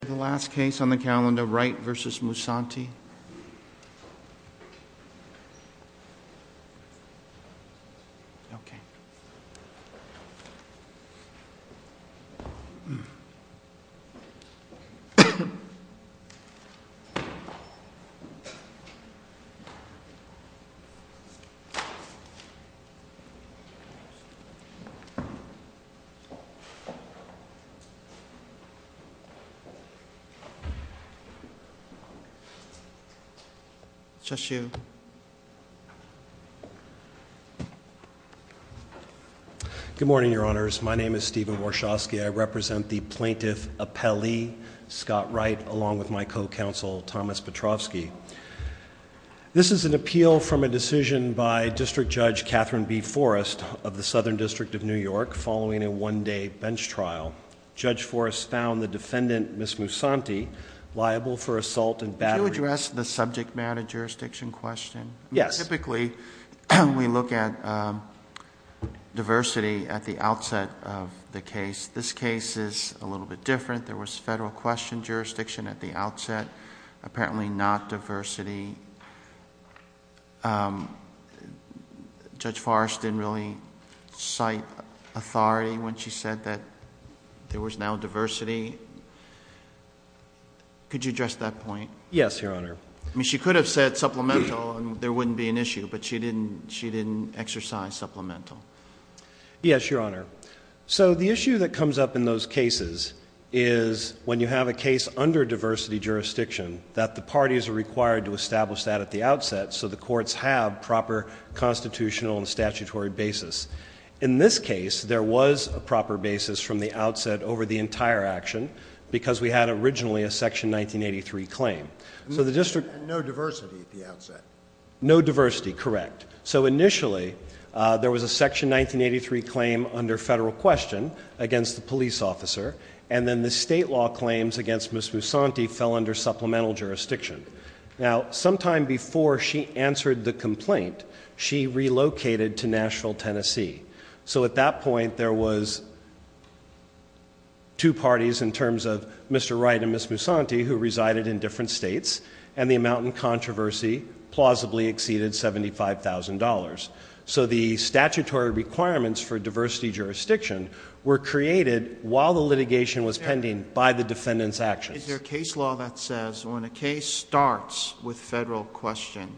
The last case on the calendar, Wright v. Musanti. Stephen Warshawski Good morning, Your Honors. My name is Stephen Warshawski. I represent the Plaintiff Appellee, Scott Wright, along with my co-counsel, Thomas Petrovski. This is an appeal from a decision by District Judge Catherine B. Forrest of the Southern District of New York following a one-day bench trial. Judge Forrest found the defendant, Ms. Musanti, liable for assault and battery. Could you address the subject matter jurisdiction question? Yes. Typically, we look at diversity at the outset of the case. This case is a little bit different. There was federal question jurisdiction at the outset, apparently not diversity. Judge Forrest didn't really cite authority when she said that there was now diversity. Could you address that point? Yes, Your Honor. I mean, she could have said supplemental and there wouldn't be an issue, but she didn't exercise supplemental. Yes, Your Honor. So the issue that comes up in those cases is when you have a case under diversity jurisdiction, that the parties are required to establish that at the outset so the courts have proper constitutional and statutory basis. In this case, there was a proper basis from the outset over the entire action because we had originally a section 1983 claim. So the district- No diversity at the outset. No diversity, correct. So initially, there was a section 1983 claim under federal question against the police officer. And then the state law claims against Ms. Musanti fell under supplemental jurisdiction. Now, sometime before she answered the complaint, she relocated to Nashville, Tennessee. So at that point, there was two parties in terms of Mr. Wright and Ms. Musanti who resided in different states. And the amount in controversy plausibly exceeded $75,000. So the statutory requirements for diversity jurisdiction were created while the litigation was pending by the defendant's actions. Is there a case law that says when a case starts with federal question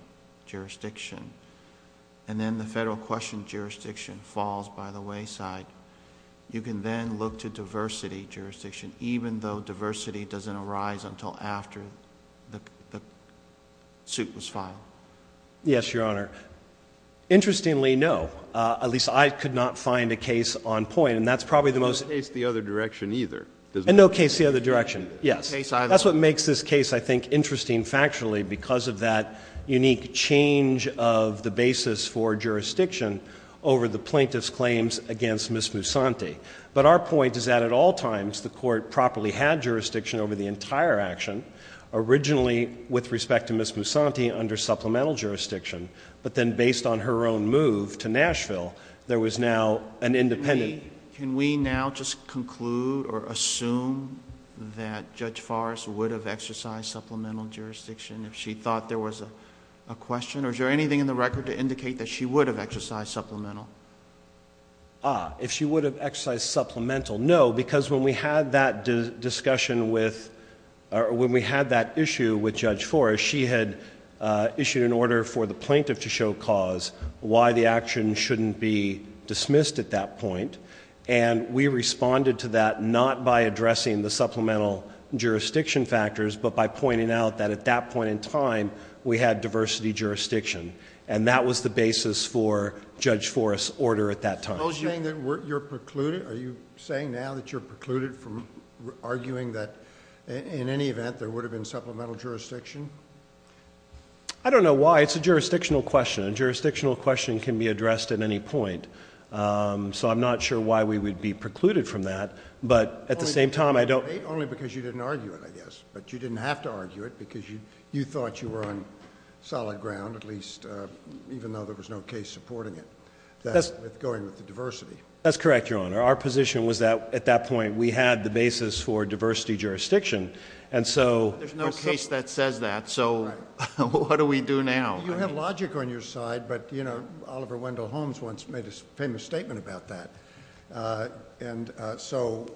jurisdiction, and then the federal question jurisdiction falls by the wayside, you can then look to diversity jurisdiction, even though diversity doesn't arise until after the suit was filed? Yes, Your Honor. Interestingly, no. At least I could not find a case on point. And that's probably the most- No case the other direction either, does it? No case the other direction. Yes. That's what makes this case, I think, interesting factually because of that unique change of the basis for jurisdiction over the plaintiff's claims against Ms. Musanti. But our point is that at all times, the court properly had jurisdiction over the entire action. Originally, with respect to Ms. Musanti under supplemental jurisdiction, but then based on her own move to Nashville, there was now an independent- Can we now just conclude or assume that Judge Forrest would have exercised supplemental jurisdiction if she thought there was a question? Or is there anything in the record to indicate that she would have exercised supplemental? If she would have exercised supplemental, no. Because when we had that discussion with, or when we had that issue with Judge Forrest, she had issued an order for the plaintiff to show cause why the action shouldn't be dismissed at that point. And we responded to that not by addressing the supplemental jurisdiction factors, but by pointing out that at that point in time, we had diversity jurisdiction. And that was the basis for Judge Forrest's order at that time. Are you saying now that you're precluded from arguing that in any event, there would have been supplemental jurisdiction? I don't know why. It's a jurisdictional question. A jurisdictional question can be addressed at any point. So I'm not sure why we would be precluded from that. But at the same time, I don't- Only because you didn't argue it, I guess. But you didn't have to argue it because you thought you were on solid ground, at least even though there was no case supporting it, that it's going with the diversity. That's correct, your honor. Our position was that at that point, we had the basis for diversity jurisdiction. And so- There's no case that says that, so what do we do now? You have logic on your side, but Oliver Wendell Holmes once made a famous statement about that. And so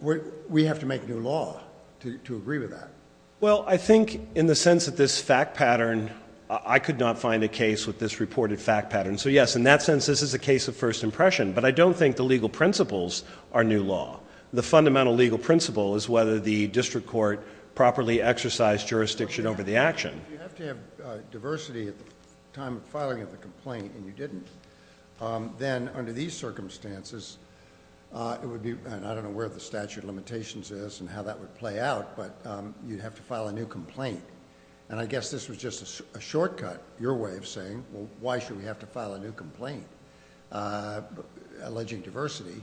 we have to make new law to agree with that. Well, I think in the sense that this fact pattern, I could not find a case with this reported fact pattern. So yes, in that sense, this is a case of first impression. But I don't think the legal principles are new law. The fundamental legal principle is whether the district court properly exercised jurisdiction over the action. If you have to have diversity at the time of filing of the complaint, and you didn't, then under these circumstances, it would be, and I don't know where the statute of limitations is and how that would play out, but you'd have to file a new complaint. And I guess this was just a shortcut, your way of saying, well, why should we have to file a new complaint alleging diversity?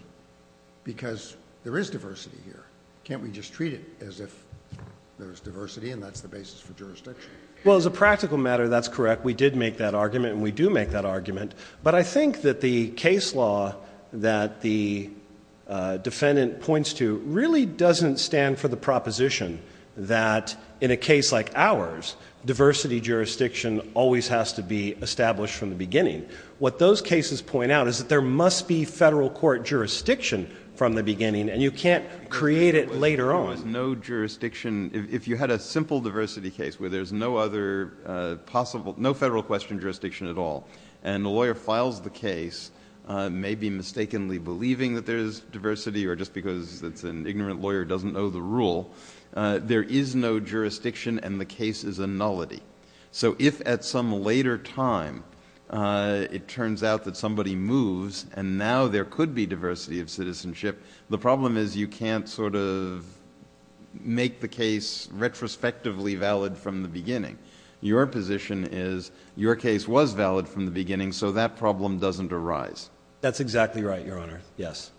Because there is diversity here. Can't we just treat it as if there's diversity and that's the basis for jurisdiction? Well, as a practical matter, that's correct. We did make that argument and we do make that argument. But I think that the case law that the defendant points to really doesn't stand for the proposition that in a case like ours, diversity jurisdiction always has to be established from the beginning. What those cases point out is that there must be federal court jurisdiction from the beginning and you can't create it later on. There was no jurisdiction, if you had a simple diversity case where there's no other possible, no federal question jurisdiction at all. And the lawyer files the case, maybe mistakenly believing that there's diversity or just because it's an ignorant lawyer who doesn't know the rule, there is no jurisdiction and the case is a nullity. So if at some later time, it turns out that somebody moves and now there could be diversity of citizenship, the problem is you can't sort of Your position is your case was valid from the beginning, so that problem doesn't arise. That's exactly right, Your Honor, yes.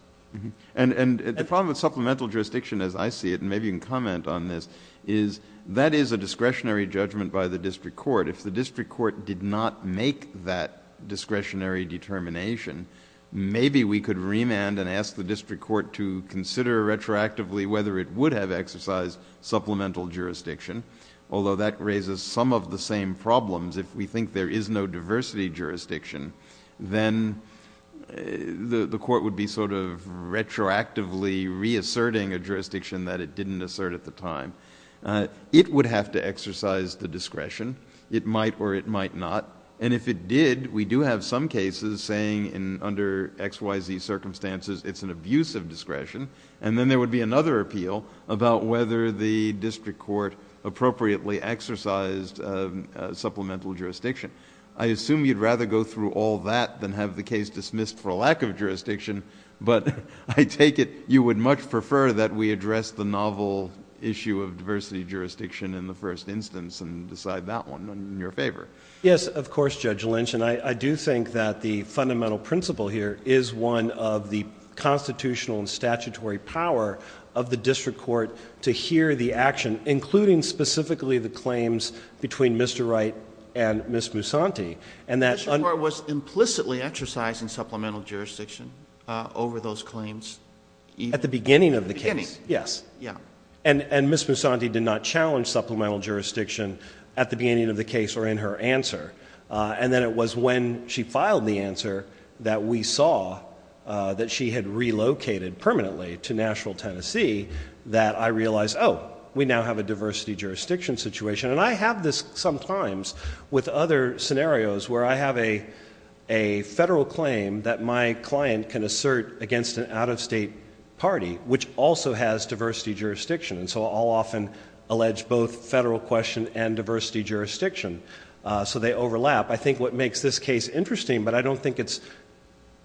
And the problem with supplemental jurisdiction, as I see it, and maybe you can comment on this, is that is a discretionary judgment by the district court. If the district court did not make that discretionary determination, maybe we could remand and ask the district court to consider retroactively whether it would have exercised supplemental jurisdiction. Although that raises some of the same problems, if we think there is no diversity jurisdiction, then the court would be sort of retroactively reasserting a jurisdiction that it didn't assert at the time. It would have to exercise the discretion, it might or it might not. And if it did, we do have some cases saying under XYZ circumstances, it's an abusive discretion. And then there would be another appeal about whether the district court appropriately exercised supplemental jurisdiction. I assume you'd rather go through all that than have the case dismissed for a lack of jurisdiction. But I take it you would much prefer that we address the novel issue of diversity jurisdiction in the first instance and decide that one in your favor. Yes, of course, Judge Lynch, and I do think that the fundamental principle here is one of the constitutional and statutory power of the district court to hear the action, including specifically the claims between Mr. Wright and Ms. Musanti. And that- The district court was implicitly exercising supplemental jurisdiction over those claims. At the beginning of the case. Yes. Yeah. And Ms. Musanti did not challenge supplemental jurisdiction at the beginning of the case or in her answer. And then it was when she filed the answer that we saw that she had relocated permanently to Nashville, Tennessee, that I realized, we now have a diversity jurisdiction situation. And I have this sometimes with other scenarios where I have a federal claim that my client can assert against an out-of-state party, which also has diversity jurisdiction. And so I'll often allege both federal question and diversity jurisdiction. So they overlap. I think what makes this case interesting, but I don't think it's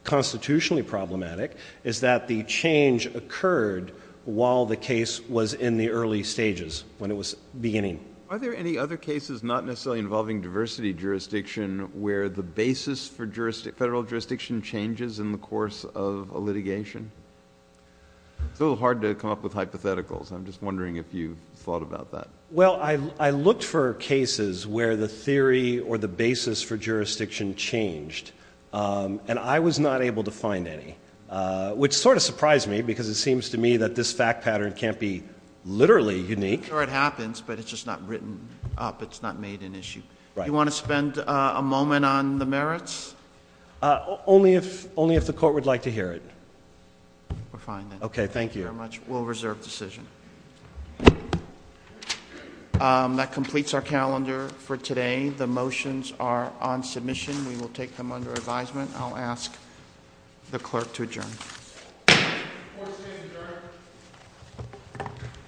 constitutionally problematic, is that the change occurred while the case was in the early stages, when it was beginning. Are there any other cases not necessarily involving diversity jurisdiction where the basis for jurisdiction, federal jurisdiction changes in the course of a litigation? It's a little hard to come up with hypotheticals. I'm just wondering if you've thought about that. Well, I looked for cases where the theory or the basis for jurisdiction changed. And I was not able to find any. Which sort of surprised me because it seems to me that this fact pattern can't be literally unique. I'm sure it happens, but it's just not written up. It's not made an issue. You want to spend a moment on the merits? Only if the court would like to hear it. We're fine then. Okay, thank you. Thank you very much. We'll reserve decision. That completes our calendar for today. The motions are on submission. We will take them under advisement. I'll ask the clerk to adjourn. Court is adjourned.